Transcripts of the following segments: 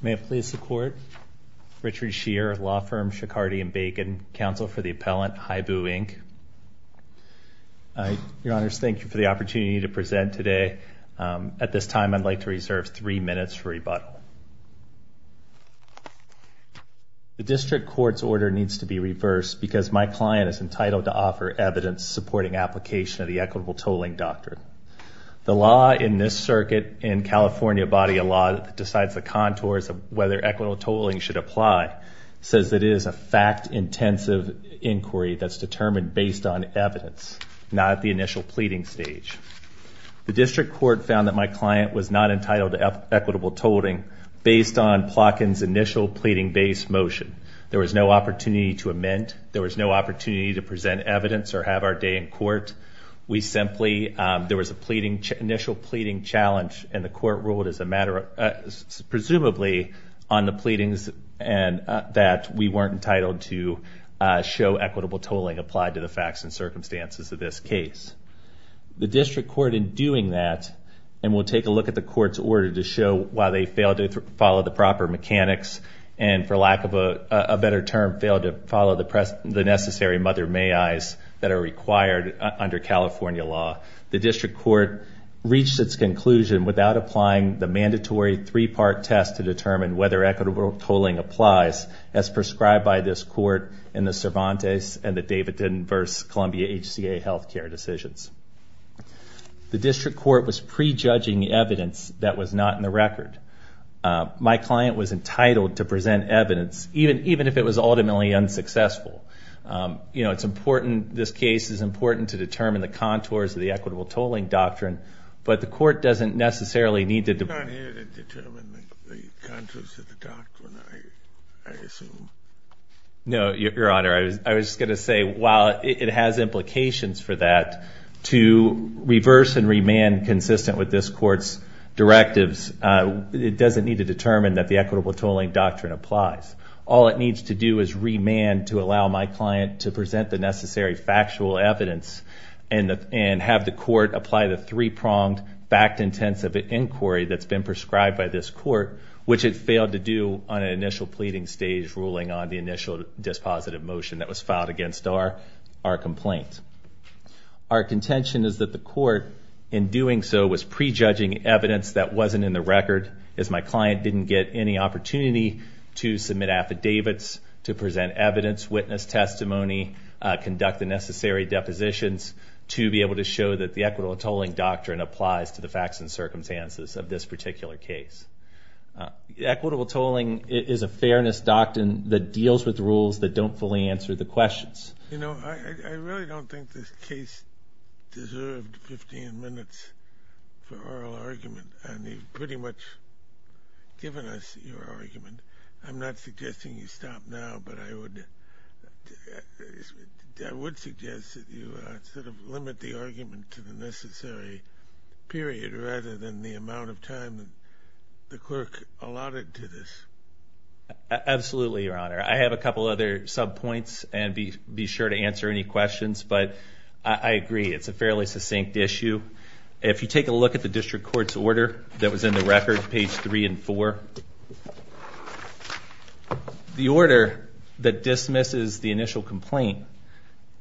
May it please the Court. Richard Scheer, Law Firm Schicardi & Bacon, Counsel for the Appellant, Hibu, Inc. Your Honors, thank you for the opportunity to present today. At this time, I'd like to reserve three minutes for rebuttal. The District Court's order needs to be reversed because my client is entitled to offer evidence supporting application of the equitable tolling doctrine. The law in this circuit, in California body of law that decides the contours of whether equitable tolling should apply, says that it is a fact-intensive inquiry that's determined based on evidence, not at the initial pleading stage. The District Court found that my client was not entitled to equitable tolling based on Plotkin's initial pleading-based motion. There was no opportunity to amend. There was no opportunity to present evidence or have our day in court. We simply, there was a pleading, initial pleading challenge, and the Court ruled as a matter of, presumably, on the pleadings and that we weren't entitled to show equitable tolling applied to the facts and circumstances of this case. The District Court, in doing that, and we'll take a look at the Court's order to show why they failed to follow the proper mechanics and, for lack of a better term, failed to follow the necessary mother may eyes that are required under California law. The District Court reached its conclusion without applying the mandatory three-part test to determine whether equitable tolling applies, as prescribed by this Court in the Cervantes and the Davidson v. Columbia HCA health care decisions. The District Court was prejudging evidence that was not in the record. My client was entitled to present evidence, even if it was ultimately unsuccessful. You know, it's important, this case is important to determine the contours of the equitable tolling doctrine, but the Court doesn't necessarily need to determine the contours of the doctrine, I assume. No, Your Honor, I was just going to say while it has implications for that, to reverse and remand consistent with this Court's directives, it doesn't need to determine that the equitable tolling doctrine applies. All it needs to do is remand to allow my client to present the necessary factual evidence and have the Court apply the three-pronged, fact-intensive inquiry that's been prescribed by this Court, which it failed to do on an initial pleading stage ruling on the initial dispositive motion that was filed against our complaint. Our contention is that the Court, in doing so, was prejudging evidence that wasn't in the record, as my client didn't get any opportunity to submit affidavits, to present evidence, witness testimony, conduct the necessary depositions to be able to show that the equitable tolling doctrine applies to the facts and circumstances of this particular case. Equitable tolling is a fairness doctrine that deals with rules that don't fully answer the questions. You know, I really don't think this case deserved 15 minutes for oral argument, and you've pretty much given us your argument. I'm not suggesting you stop now, but I would suggest that you sort of limit the argument to the necessary period rather than the amount of time the clerk allotted to this. Absolutely, Your Honor. I have a couple other subpoints, and be sure to answer any questions, but I agree, it's a fairly succinct issue. If you take a look at the District Court's order that was in the record, page 3 and 4, the order that dismisses the initial complaint,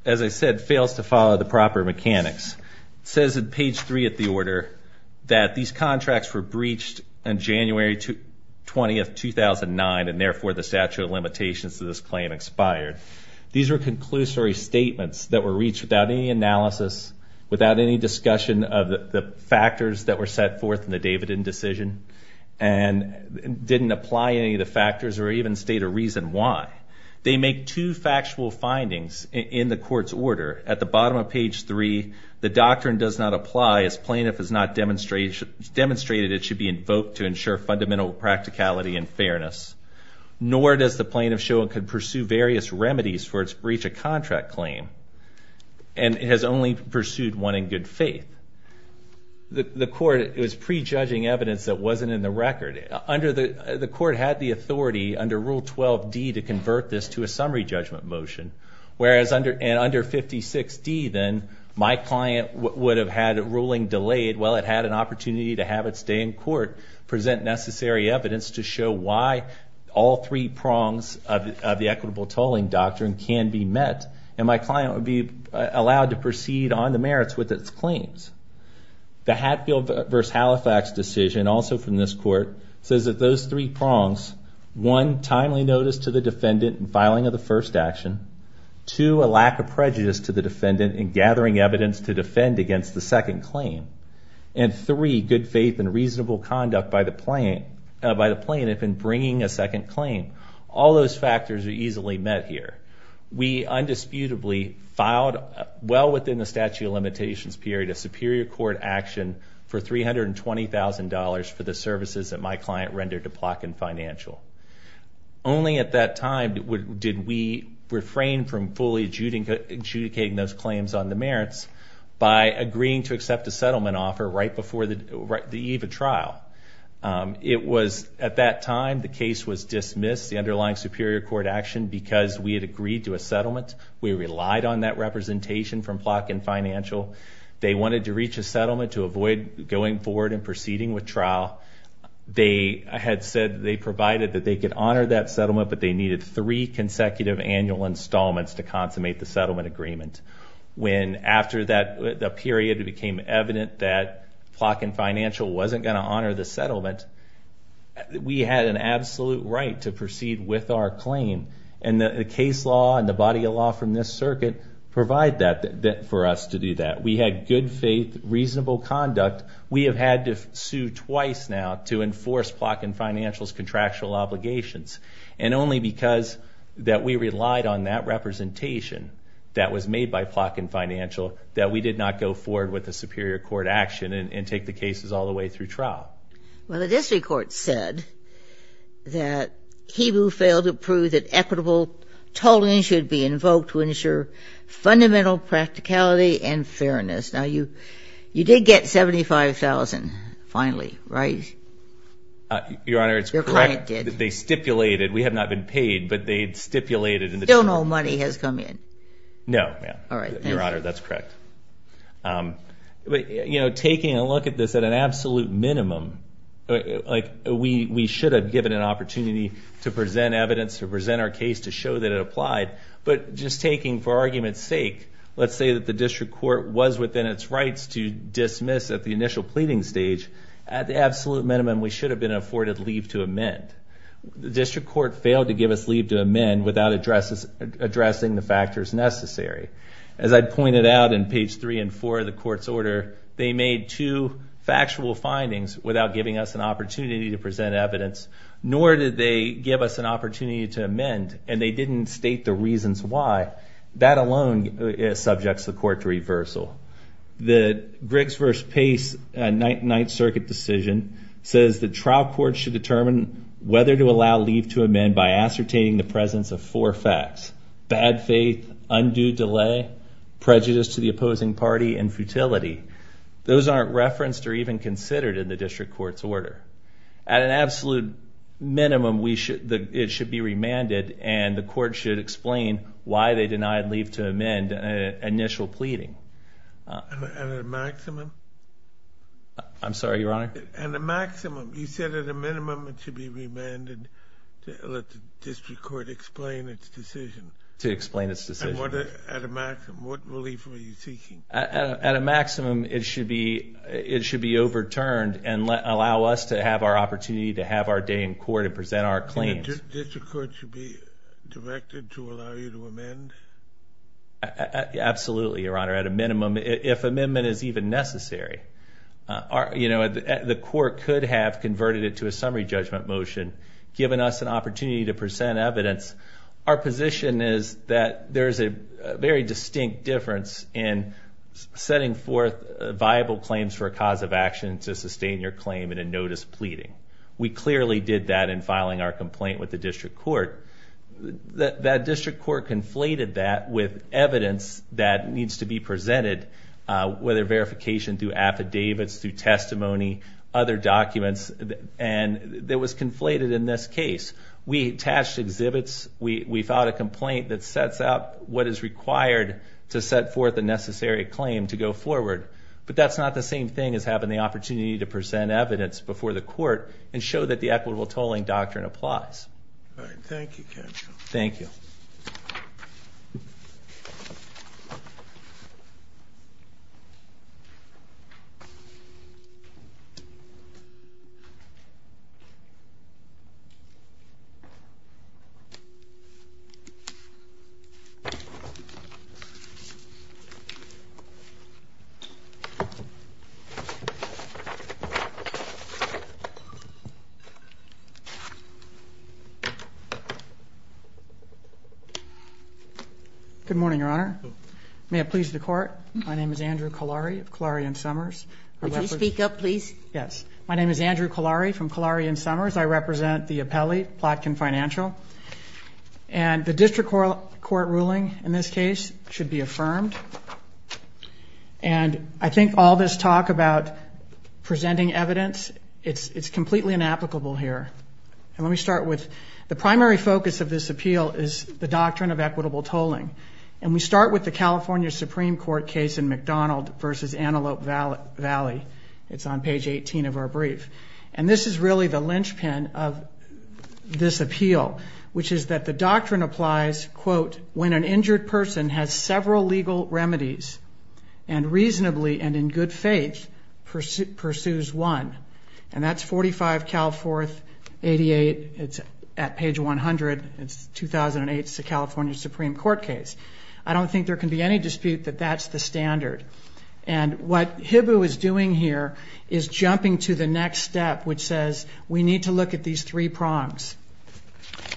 as I said, fails to follow the proper mechanics. It says in page 3 of the order that these contracts were breached on January 20, 2009, and therefore the statute of limitations to this claim expired. These were conclusory statements that were reached without any analysis, without any discussion of the factors that were set forth in the Davidin decision, and didn't apply any of the factors or even state a reason why. They make two factual findings in the court's order. At the bottom of page 3, the doctrine does not apply as plaintiff has not demonstrated it should be invoked to ensure fundamental practicality and fairness, nor does the plaintiff show it could pursue various remedies for its breach of contract claim, and has only pursued one in good faith. The court was prejudging evidence that wasn't in the record. The court had the authority under Rule 12d to convert this to a summary judgment motion, whereas under 56d, then, my client would have had a ruling delayed while it had an opportunity to have it stay in court, present necessary evidence to show why all three prongs of the equitable tolling doctrine can be met, and my client would be allowed to proceed on the merits with its claims. The Hatfield v. Halifax decision, also from this court, says that those three prongs, one, timely notice to the defendant in filing of the first action, two, a lack of prejudice to the defendant in gathering evidence to defend against the second claim, and three, good faith and reasonable conduct by the plaintiff in bringing a second claim. All those factors are easily met here. We undisputably filed, well within the statute of limitations period, a superior court action for $320,000 for the services that my client rendered to Plotkin Financial. Only at that time did we refrain from fully adjudicating those claims on the merits by agreeing to accept a settlement offer right before the eve of trial. It was at that time the case was dismissed, the underlying superior court action, because we had agreed to a settlement. We relied on that representation from Plotkin Financial. They wanted to reach a settlement to avoid going forward and proceeding with trial. They had said they provided that they could honor that settlement, but they needed three consecutive annual installments to consummate the settlement agreement. When after that period it became evident that Plotkin Financial wasn't going to honor the settlement, we had an absolute right to proceed with our claim, and the case law and the body of law from this circuit provide that for us to do that. We had good faith, reasonable conduct. We have had to sue twice now to enforce Plotkin Financial's contractual obligations, and only because we relied on that representation that was made by Plotkin Financial that we did not go forward with a superior court action and take the cases all the way through trial. Well, the district court said that HEBU failed to prove that equitable tolling should be invoked to ensure fundamental practicality and fairness. Now, you did get $75,000, finally, right? Your Honor, it's correct. Your client did. They stipulated. We have not been paid, but they stipulated. Still no money has come in? No, ma'am. All right, thank you. Your Honor, that's correct. But, you know, taking a look at this at an absolute minimum, like we should have given an opportunity to present evidence, to present our case to show that it applied, but just taking for argument's sake, let's say that the district court was within its rights to dismiss at the initial pleading stage, at the absolute minimum we should have been afforded leave to amend. The district court failed to give us leave to amend without addressing the factors necessary. As I pointed out in page 3 and 4 of the court's order, they made two factual findings without giving us an opportunity to present evidence, nor did they give us an opportunity to amend, and they didn't state the reasons why. That alone subjects the court to reversal. The Briggs v. Pace Ninth Circuit decision says that trial courts should determine whether to allow leave to amend by ascertaining the presence of four facts, bad faith, undue delay, prejudice to the opposing party, and futility. Those aren't referenced or even considered in the district court's order. At an absolute minimum, it should be remanded, and the court should explain why they denied leave to amend at initial pleading. And at a maximum? I'm sorry, Your Honor? At a maximum. You said at a minimum it should be remanded to let the district court explain its decision. To explain its decision. At a maximum, what relief were you seeking? At a maximum, it should be overturned and allow us to have our opportunity to have our day in court and present our claims. The district court should be directed to allow you to amend? Absolutely, Your Honor, at a minimum, if amendment is even necessary. You know, the court could have converted it to a summary judgment motion, given us an opportunity to present evidence. Our position is that there is a very distinct difference in setting forth viable claims for a cause of action to sustain your claim in a notice pleading. We clearly did that in filing our complaint with the district court. That district court conflated that with evidence that needs to be presented, whether verification through affidavits, through testimony, other documents. And it was conflated in this case. We attached exhibits. We filed a complaint that sets out what is required to set forth a necessary claim to go forward. But that's not the same thing as having the opportunity to present evidence before the court and show that the equitable tolling doctrine applies. All right. Thank you, counsel. Thank you. Thank you. Good morning, Your Honor. May it please the court. My name is Andrew Collari of Collari and Summers. Would you speak up, please? Yes. My name is Andrew Collari from Collari and Summers. I represent the appellee, Plotkin Financial. And the district court ruling in this case should be affirmed. And I think all this talk about presenting evidence, it's completely inapplicable here. And let me start with the primary focus of this appeal is the doctrine of equitable tolling. And we start with the California Supreme Court case in McDonald v. Antelope Valley. It's on page 18 of our brief. And this is really the linchpin of this appeal, which is that the doctrine applies, quote, when an injured person has several legal remedies and reasonably and in good faith pursues one. And that's 45 Calforth 88. It's at page 100. It's 2008. It's the California Supreme Court case. I don't think there can be any dispute that that's the standard. And what HIBU is doing here is jumping to the next step, which says we need to look at these three prongs.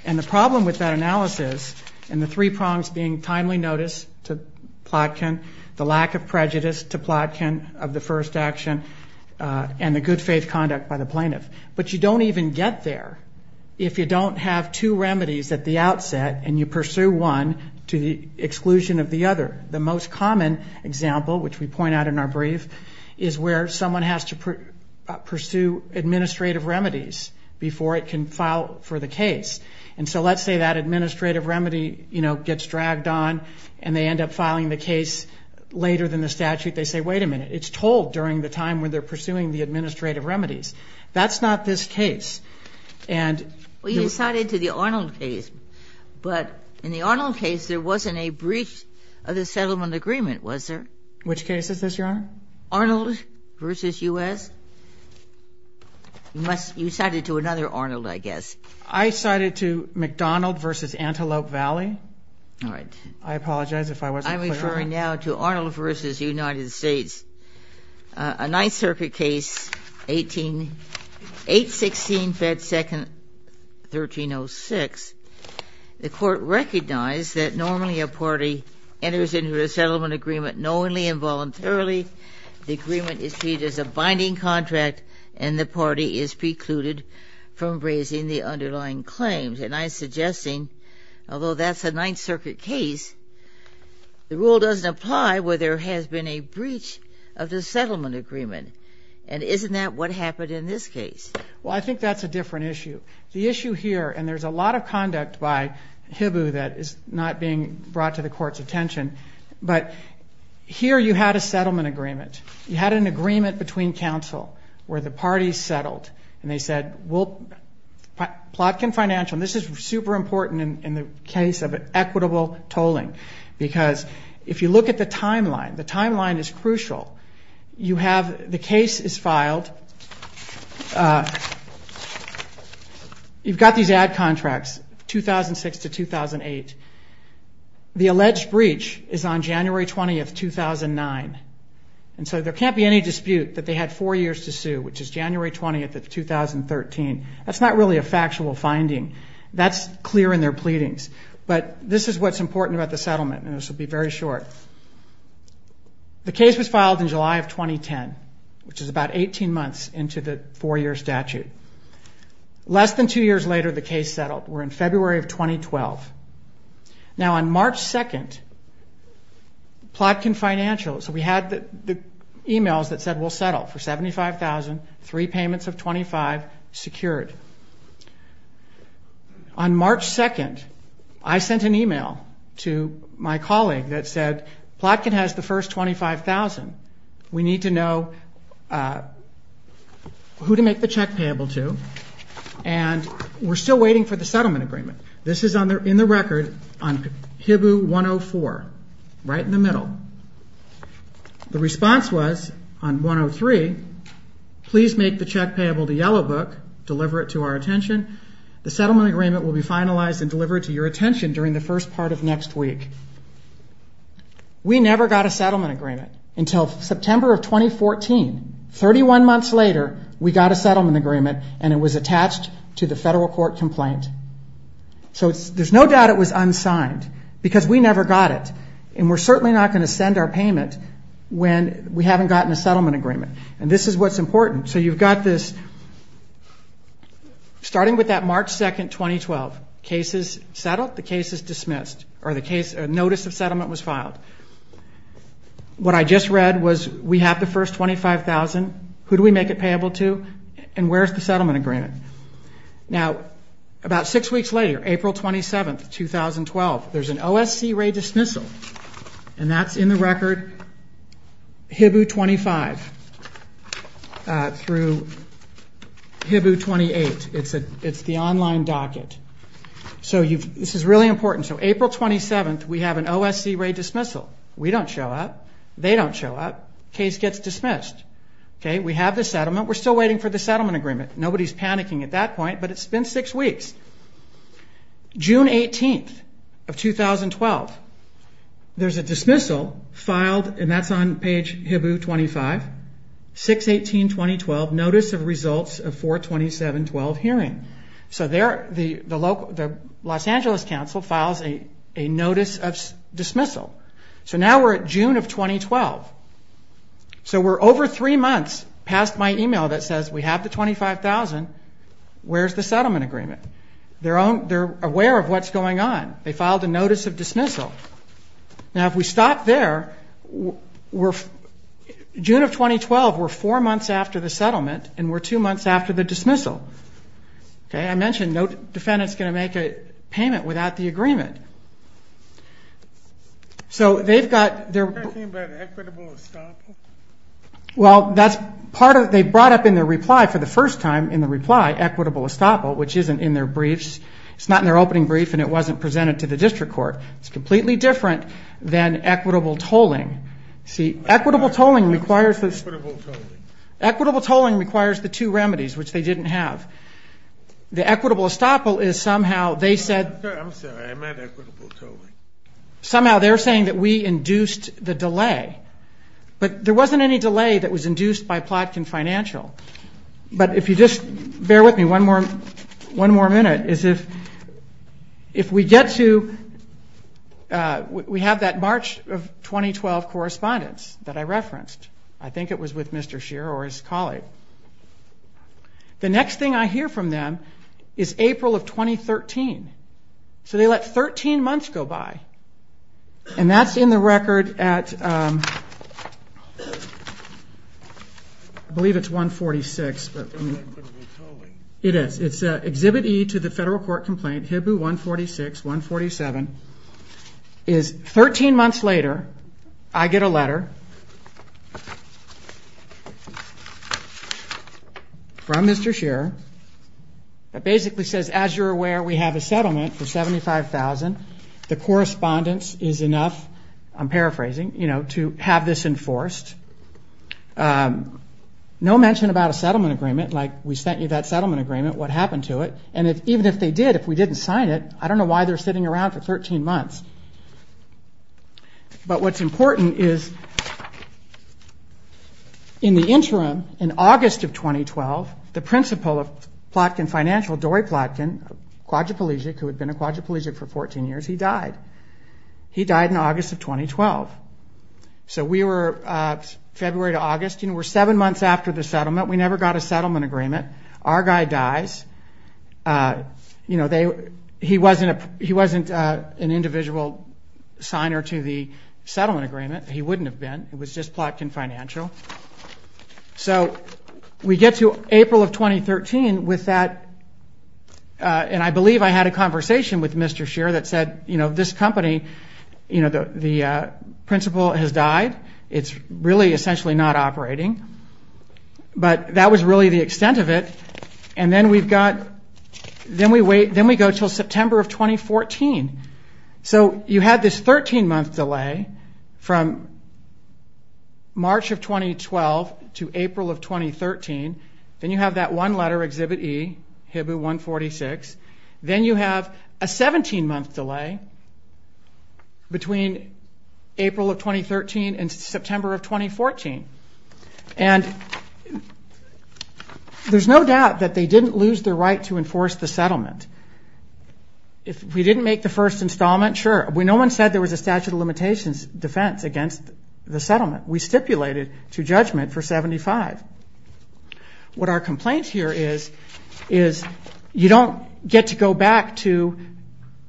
And the problem with that analysis and the three prongs being timely notice to Plotkin, the lack of prejudice to Plotkin of the first action, and the good faith conduct by the plaintiff. But you don't even get there. If you don't have two remedies at the outset and you pursue one to the exclusion of the other. The most common example, which we point out in our brief, is where someone has to pursue administrative remedies before it can file for the case. And so let's say that administrative remedy, you know, gets dragged on and they end up filing the case later than the statute. They say, wait a minute. It's told during the time when they're pursuing the administrative remedies. That's not this case. And. Well, you cited to the Arnold case. But in the Arnold case, there wasn't a brief of the settlement agreement, was there? Which case is this, Your Honor? Arnold v. U.S. You cited to another Arnold, I guess. I cited to McDonald v. Antelope Valley. All right. I apologize if I wasn't clear. I'm referring now to Arnold v. United States. A Ninth Circuit case, 816 Fed Second 1306. The court recognized that normally a party enters into a settlement agreement knowingly and voluntarily. The agreement is treated as a binding contract and the party is precluded from raising the underlying claims. And I'm suggesting, although that's a Ninth Circuit case, the rule doesn't apply where there has been a breach of the settlement agreement. And isn't that what happened in this case? Well, I think that's a different issue. The issue here, and there's a lot of conduct by HIBU that is not being brought to the court's attention, but here you had a settlement agreement. You had an agreement between counsel where the parties settled and they said, Plotkin Financial, and this is super important in the case of equitable tolling, because if you look at the timeline, the timeline is crucial. You have the case is filed. You've got these ad contracts, 2006 to 2008. The alleged breach is on January 20, 2009. And so there can't be any dispute that they had four years to sue, which is January 20 of 2013. That's not really a factual finding. That's clear in their pleadings. But this is what's important about the settlement, and this will be very short. The case was filed in July of 2010, which is about 18 months into the four-year statute. Less than two years later, the case settled. We're in February of 2012. Now, on March 2, Plotkin Financial, so we had the e-mails that said, we'll settle for $75,000, three payments of $25,000 secured. On March 2, I sent an e-mail to my colleague that said, Plotkin has the first $25,000. We need to know who to make the check payable to, and we're still waiting for the settlement agreement. This is in the record on HIBU 104, right in the middle. The response was on 103, please make the check payable to Yellow Book, deliver it to our attention. The settlement agreement will be finalized and delivered to your attention during the first part of next week. We never got a settlement agreement until September of 2014. 31 months later, we got a settlement agreement, and it was attached to the federal court complaint. So there's no doubt it was unsigned, because we never got it, and we're certainly not going to send our payment when we haven't gotten a settlement agreement. And this is what's important. So you've got this, starting with that March 2, 2012. The case is settled, the case is dismissed, or the notice of settlement was filed. What I just read was we have the first $25,000. Who do we make it payable to, and where's the settlement agreement? Now, about six weeks later, April 27, 2012, there's an OSC raid dismissal, and that's in the record HIBU 25 through HIBU 28. It's the online docket. So this is really important. So April 27, we have an OSC raid dismissal. We don't show up. They don't show up. Case gets dismissed. We have the settlement. We're still waiting for the settlement agreement. Nobody's panicking at that point, but it's been six weeks. June 18, 2012, there's a dismissal filed, and that's on page HIBU 25. 6-18-2012, notice of results of 4-27-12 hearing. So there the Los Angeles Council files a notice of dismissal. So now we're at June of 2012. So we're over three months past my email that says we have the $25,000. Where's the settlement agreement? They're aware of what's going on. They filed a notice of dismissal. Now, if we stop there, June of 2012, we're four months after the settlement, and we're two months after the dismissal. I mentioned no defendant's going to make a payment without the agreement. So they've got their ---- Are you talking about equitable estoppel? Well, that's part of it. They brought up in their reply, for the first time in the reply, equitable estoppel, which isn't in their briefs. It's not in their opening brief, and it wasn't presented to the district court. It's completely different than equitable tolling. See, equitable tolling requires the two remedies, which they didn't have. The equitable estoppel is somehow they said ---- I'm sorry, I meant equitable tolling. Somehow they're saying that we induced the delay. But there wasn't any delay that was induced by Plotkin Financial. But if you just bear with me one more minute, is if we get to ---- we have that March of 2012 correspondence that I referenced. I think it was with Mr. Scheer or his colleague. The next thing I hear from them is April of 2013. So they let 13 months go by, and that's in the record at, I believe it's 146. It's not equitable tolling. It is. It's Exhibit E to the federal court complaint, HIBU 146-147. Thirteen months later, I get a letter from Mr. Scheer that basically says, as you're aware, we have a settlement for $75,000. The correspondence is enough, I'm paraphrasing, to have this enforced. No mention about a settlement agreement, like we sent you that settlement agreement. What happened to it? And even if they did, if we didn't sign it, I don't know why they're sitting around for 13 months. But what's important is in the interim, in August of 2012, the principal of Plotkin Financial, Dory Plotkin, a quadriplegic who had been a quadriplegic for 14 years, he died. He died in August of 2012. So we were February to August. We're seven months after the settlement. We never got a settlement agreement. Our guy dies. You know, he wasn't an individual signer to the settlement agreement. He wouldn't have been. It was just Plotkin Financial. So we get to April of 2013 with that, and I believe I had a conversation with Mr. Scheer that said, you know, this company, you know, the principal has died. It's really essentially not operating. But that was really the extent of it. And then we've got, then we wait, then we go until September of 2014. So you had this 13-month delay from March of 2012 to April of 2013. Then you have that one-letter Exhibit E, HIBU 146. Then you have a 17-month delay between April of 2013 and September of 2014. And there's no doubt that they didn't lose their right to enforce the settlement. If we didn't make the first installment, sure. No one said there was a statute of limitations defense against the settlement. We stipulated to judgment for 75. What our complaint here is, is you don't get to go back to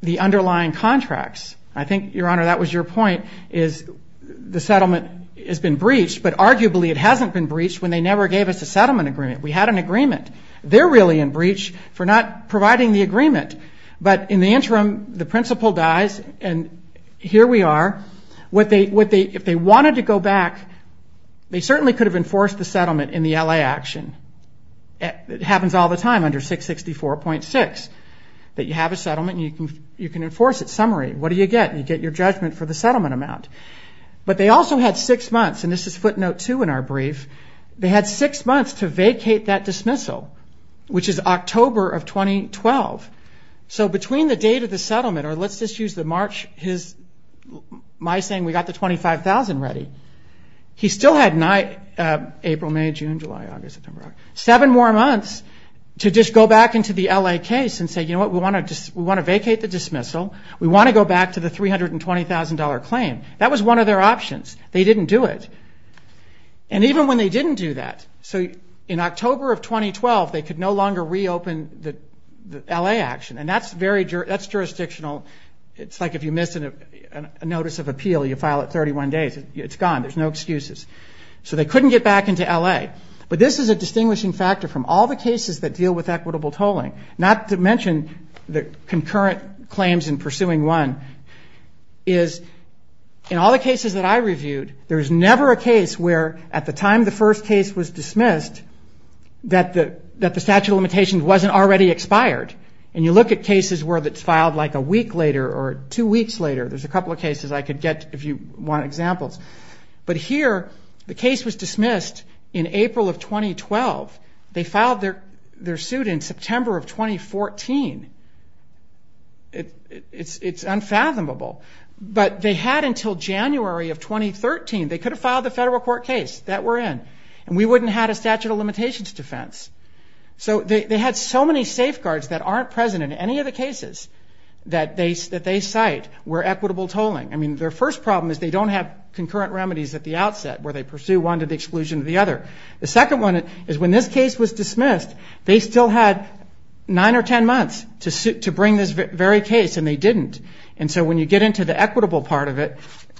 the underlying contracts. I think, Your Honor, that was your point, is the settlement has been breached, but arguably it hasn't been breached when they never gave us a settlement agreement. We had an agreement. They're really in breach for not providing the agreement. But in the interim, the principal dies, and here we are. If they wanted to go back, they certainly could have enforced the settlement in the L.A. action. It happens all the time under 664.6, that you have a settlement and you can enforce it. Summary, what do you get? You get your judgment for the settlement amount. But they also had six months, and this is footnote two in our brief, they had six months to vacate that dismissal, which is October of 2012. So between the date of the settlement, or let's just use my saying, we got the $25,000 ready, he still had April, May, June, July, August, September, seven more months to just go back into the L.A. case and say, you know what, we want to vacate the dismissal. We want to go back to the $320,000 claim. That was one of their options. They didn't do it. And even when they didn't do that, so in October of 2012, they could no longer reopen the L.A. action. And that's jurisdictional. It's like if you miss a notice of appeal, you file it 31 days. It's gone. There's no excuses. So they couldn't get back into L.A. But this is a distinguishing factor from all the cases that deal with equitable tolling, not to mention the concurrent claims in pursuing one, is in all the cases that I reviewed, there's never a case where at the time the first case was dismissed, that the statute of limitations wasn't already expired. And you look at cases where it's filed like a week later or two weeks later. There's a couple of cases I could get if you want examples. But here the case was dismissed in April of 2012. They filed their suit in September of 2014. It's unfathomable. But they had until January of 2013. They could have filed the federal court case that we're in, and we wouldn't have had a statute of limitations defense. So they had so many safeguards that aren't present in any of the cases that they cite were equitable tolling. I mean, their first problem is they don't have concurrent remedies at the outset where they pursue one to the exclusion of the other. The second one is when this case was dismissed, they still had nine or ten months to bring this very case, and they didn't. And so when you get into the equitable part of it,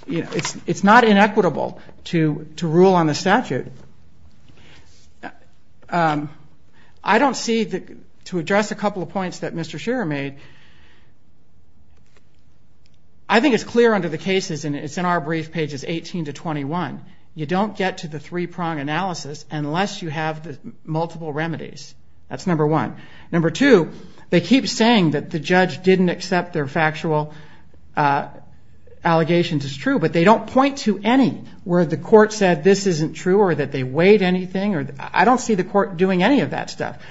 it's not inequitable to rule on the statute. I don't see, to address a couple of points that Mr. Shearer made, I think it's clear under the cases, and it's in our brief pages 18 to 21, you don't get to the three-prong analysis unless you have the multiple remedies. That's number one. Number two, they keep saying that the judge didn't accept their factual allegations as true, but they don't point to any where the court said this isn't true or that they weighed anything. I don't see the court doing any of that stuff.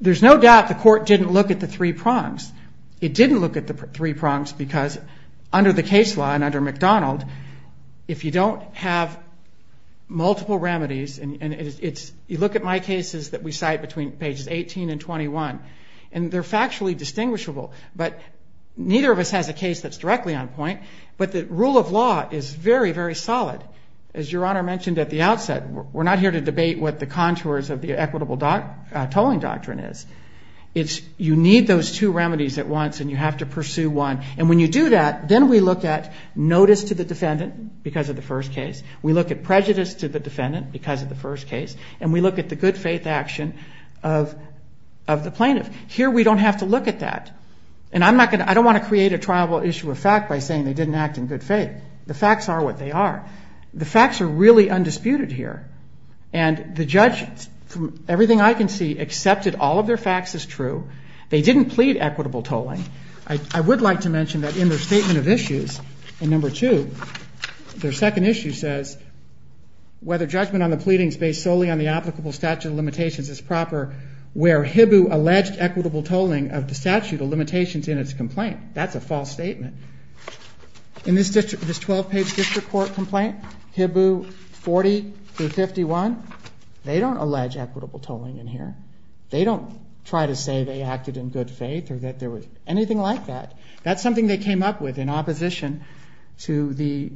There's no doubt the court didn't look at the three prongs. It didn't look at the three prongs because under the case law and under McDonald, if you don't have multiple remedies, and you look at my cases that we cite between pages 18 and 21, and they're factually distinguishable, but neither of us has a case that's directly on point, but the rule of law is very, very solid. As Your Honor mentioned at the outset, we're not here to debate what the contours of the equitable tolling doctrine is. You need those two remedies at once, and you have to pursue one. And when you do that, then we look at notice to the defendant because of the first case. We look at prejudice to the defendant because of the first case, and we look at the good-faith action of the plaintiff. Here we don't have to look at that, and I don't want to create a triable issue of fact by saying they didn't act in good faith. The facts are what they are. The facts are really undisputed here, and the judge, from everything I can see, accepted all of their facts as true. They didn't plead equitable tolling. I would like to mention that in their statement of issues in No. 2, their second issue says, whether judgment on the pleading is based solely on the applicable statute of limitations is proper, where HIBU alleged equitable tolling of the statute of limitations in its complaint. That's a false statement. In this 12-page district court complaint, HIBU 40 through 51, they don't allege equitable tolling in here. They don't try to say they acted in good faith or that there was anything like that. That's something they came up with in opposition to the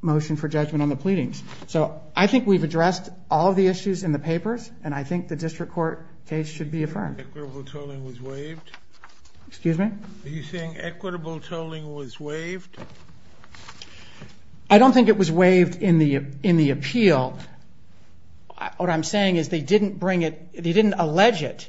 motion for judgment on the pleadings. So I think we've addressed all of the issues in the papers, and I think the district court case should be affirmed. Equitable tolling was waived? Excuse me? Are you saying equitable tolling was waived? I don't think it was waived in the appeal. What I'm saying is they didn't bring it, they didn't allege it.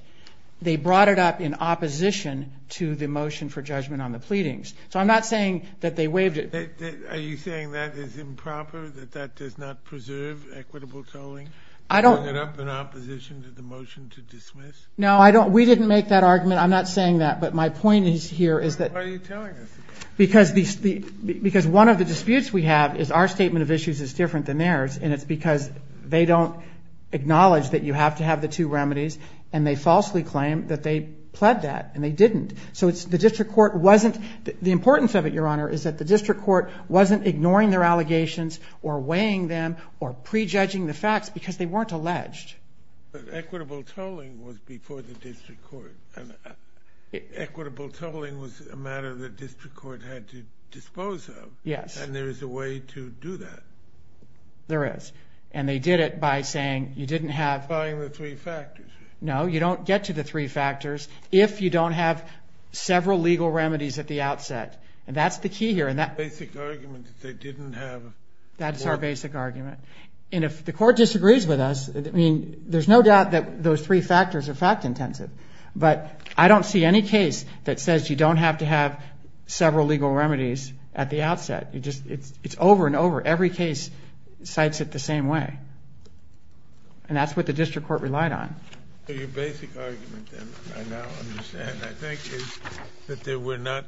They brought it up in opposition to the motion for judgment on the pleadings. So I'm not saying that they waived it. Are you saying that is improper, that that does not preserve equitable tolling? I don't. Bring it up in opposition to the motion to dismiss? No, I don't. We didn't make that argument. I'm not saying that, but my point is here is that. Why are you telling us? Because one of the disputes we have is our statement of issues is different than theirs, and it's because they don't acknowledge that you have to have the two remedies, and they falsely claim that they pled that, and they didn't. So the district court wasn't – the importance of it, Your Honor, is that the district court wasn't ignoring their allegations or weighing them or prejudging the facts because they weren't alleged. But equitable tolling was before the district court, and equitable tolling was a matter the district court had to dispose of. Yes. And there is a way to do that. There is. And they did it by saying you didn't have. Applying the three factors. No, you don't get to the three factors if you don't have several legal remedies at the outset. And that's the key here. And that basic argument that they didn't have. That's our basic argument. And if the court disagrees with us, I mean, there's no doubt that those three factors are fact-intensive. But I don't see any case that says you don't have to have several legal remedies at the outset. It's over and over. Every case cites it the same way. And that's what the district court relied on. Your basic argument, then, I now understand, I think, is that there were not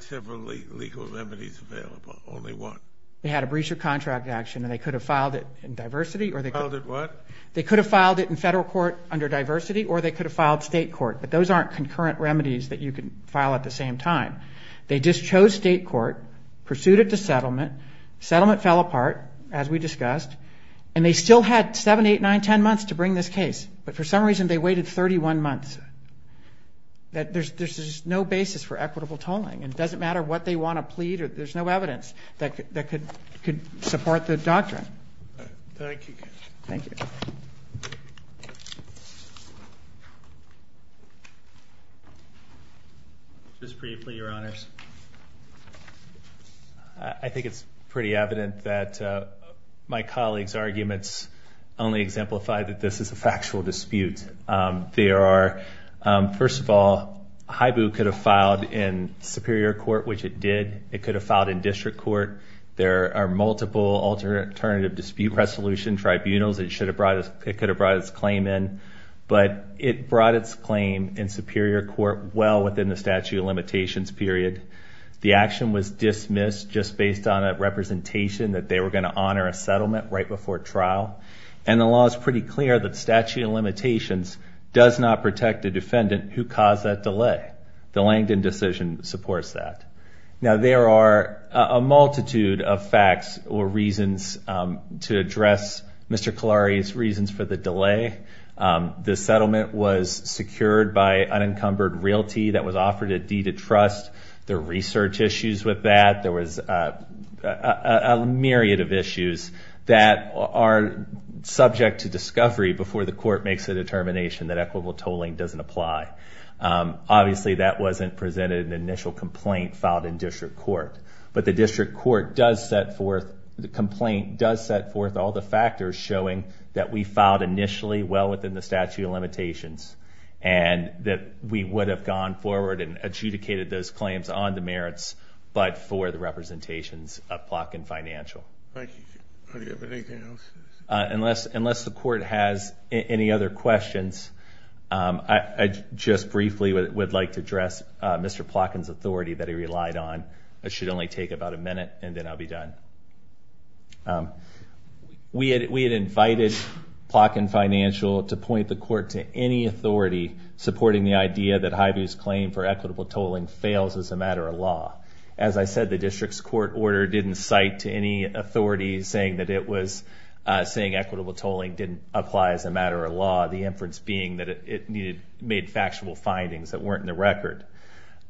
several legal remedies available, only one. They had a breach of contract action, and they could have filed it in diversity. Filed it what? They could have filed it in federal court under diversity, or they could have filed state court. But those aren't concurrent remedies that you can file at the same time. They just chose state court, pursued it to settlement. Settlement fell apart, as we discussed. And they still had seven, eight, nine, ten months to bring this case. But for some reason, they waited 31 months. There's just no basis for equitable tolling. And it doesn't matter what they want to plead. There's no evidence that could support the doctrine. Thank you. Thank you. Just briefly, your honors. I think it's pretty evident that my colleagues' arguments only exemplify that this is a factual dispute. First of all, HIBU could have filed in superior court, which it did. It could have filed in district court. There are multiple alternative dispute resolution tribunals. It could have brought its claim in. But it brought its claim in superior court well within the statute of limitations period. The action was dismissed just based on a representation that they were going to honor a settlement right before trial. And the law is pretty clear that statute of limitations does not protect a defendant who caused that delay. The Langdon decision supports that. Now, there are a multitude of facts or reasons to address Mr. Kalari's reasons for the delay. The settlement was secured by unencumbered realty that was offered a deed of trust. There are research issues with that. There was a myriad of issues that are subject to discovery before the court makes a determination that equitable tolling doesn't apply. Obviously, that wasn't presented in the initial complaint filed in district court. But the district court does set forth, the complaint does set forth all the factors showing that we filed initially well within the statute of limitations and that we would have gone forward and adjudicated those claims on the merits but for the representations of block and financial. Thank you. Do you have anything else? Unless the court has any other questions, I just briefly would like to address Mr. Plotkin's authority that he relied on. It should only take about a minute and then I'll be done. We had invited Plotkin Financial to point the court to any authority supporting the idea that HIBU's claim for equitable tolling fails as a matter of law. As I said, the district's court order didn't cite to any authority saying that it was saying equitable tolling didn't apply as a matter of law, the inference being that it made factual findings that weren't in the record.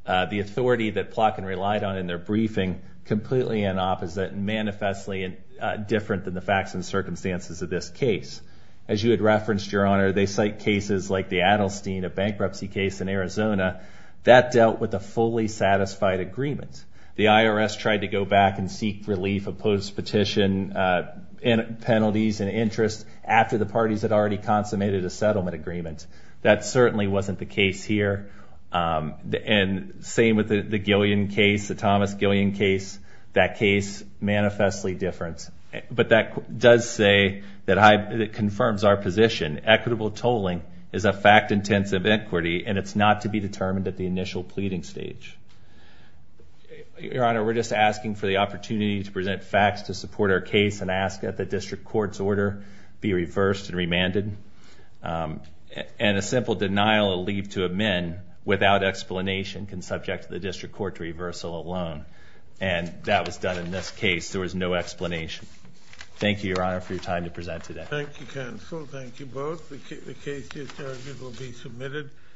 The authority that Plotkin relied on in their briefing completely in opposite and manifestly different than the facts and circumstances of this case. As you had referenced, Your Honor, they cite cases like the Adelstein, a bankruptcy case in Arizona. That dealt with a fully satisfied agreement. The IRS tried to go back and seek relief of post-petition penalties and interest after the parties had already consummated a settlement agreement. That certainly wasn't the case here. And same with the Gillian case, the Thomas Gillian case. That case, manifestly different. But that does say that HIBU confirms our position. Equitable tolling is a fact-intensive equity and it's not to be determined at the initial pleading stage. Your Honor, we're just asking for the opportunity to present facts to support our case and ask that the district court's order be reversed and remanded. And a simple denial of leave to amend without explanation can subject the district court to reversal alone. And that was done in this case. There was no explanation. Thank you, Your Honor, for your time to present today. Thank you, counsel. Thank you both. The case is submitted.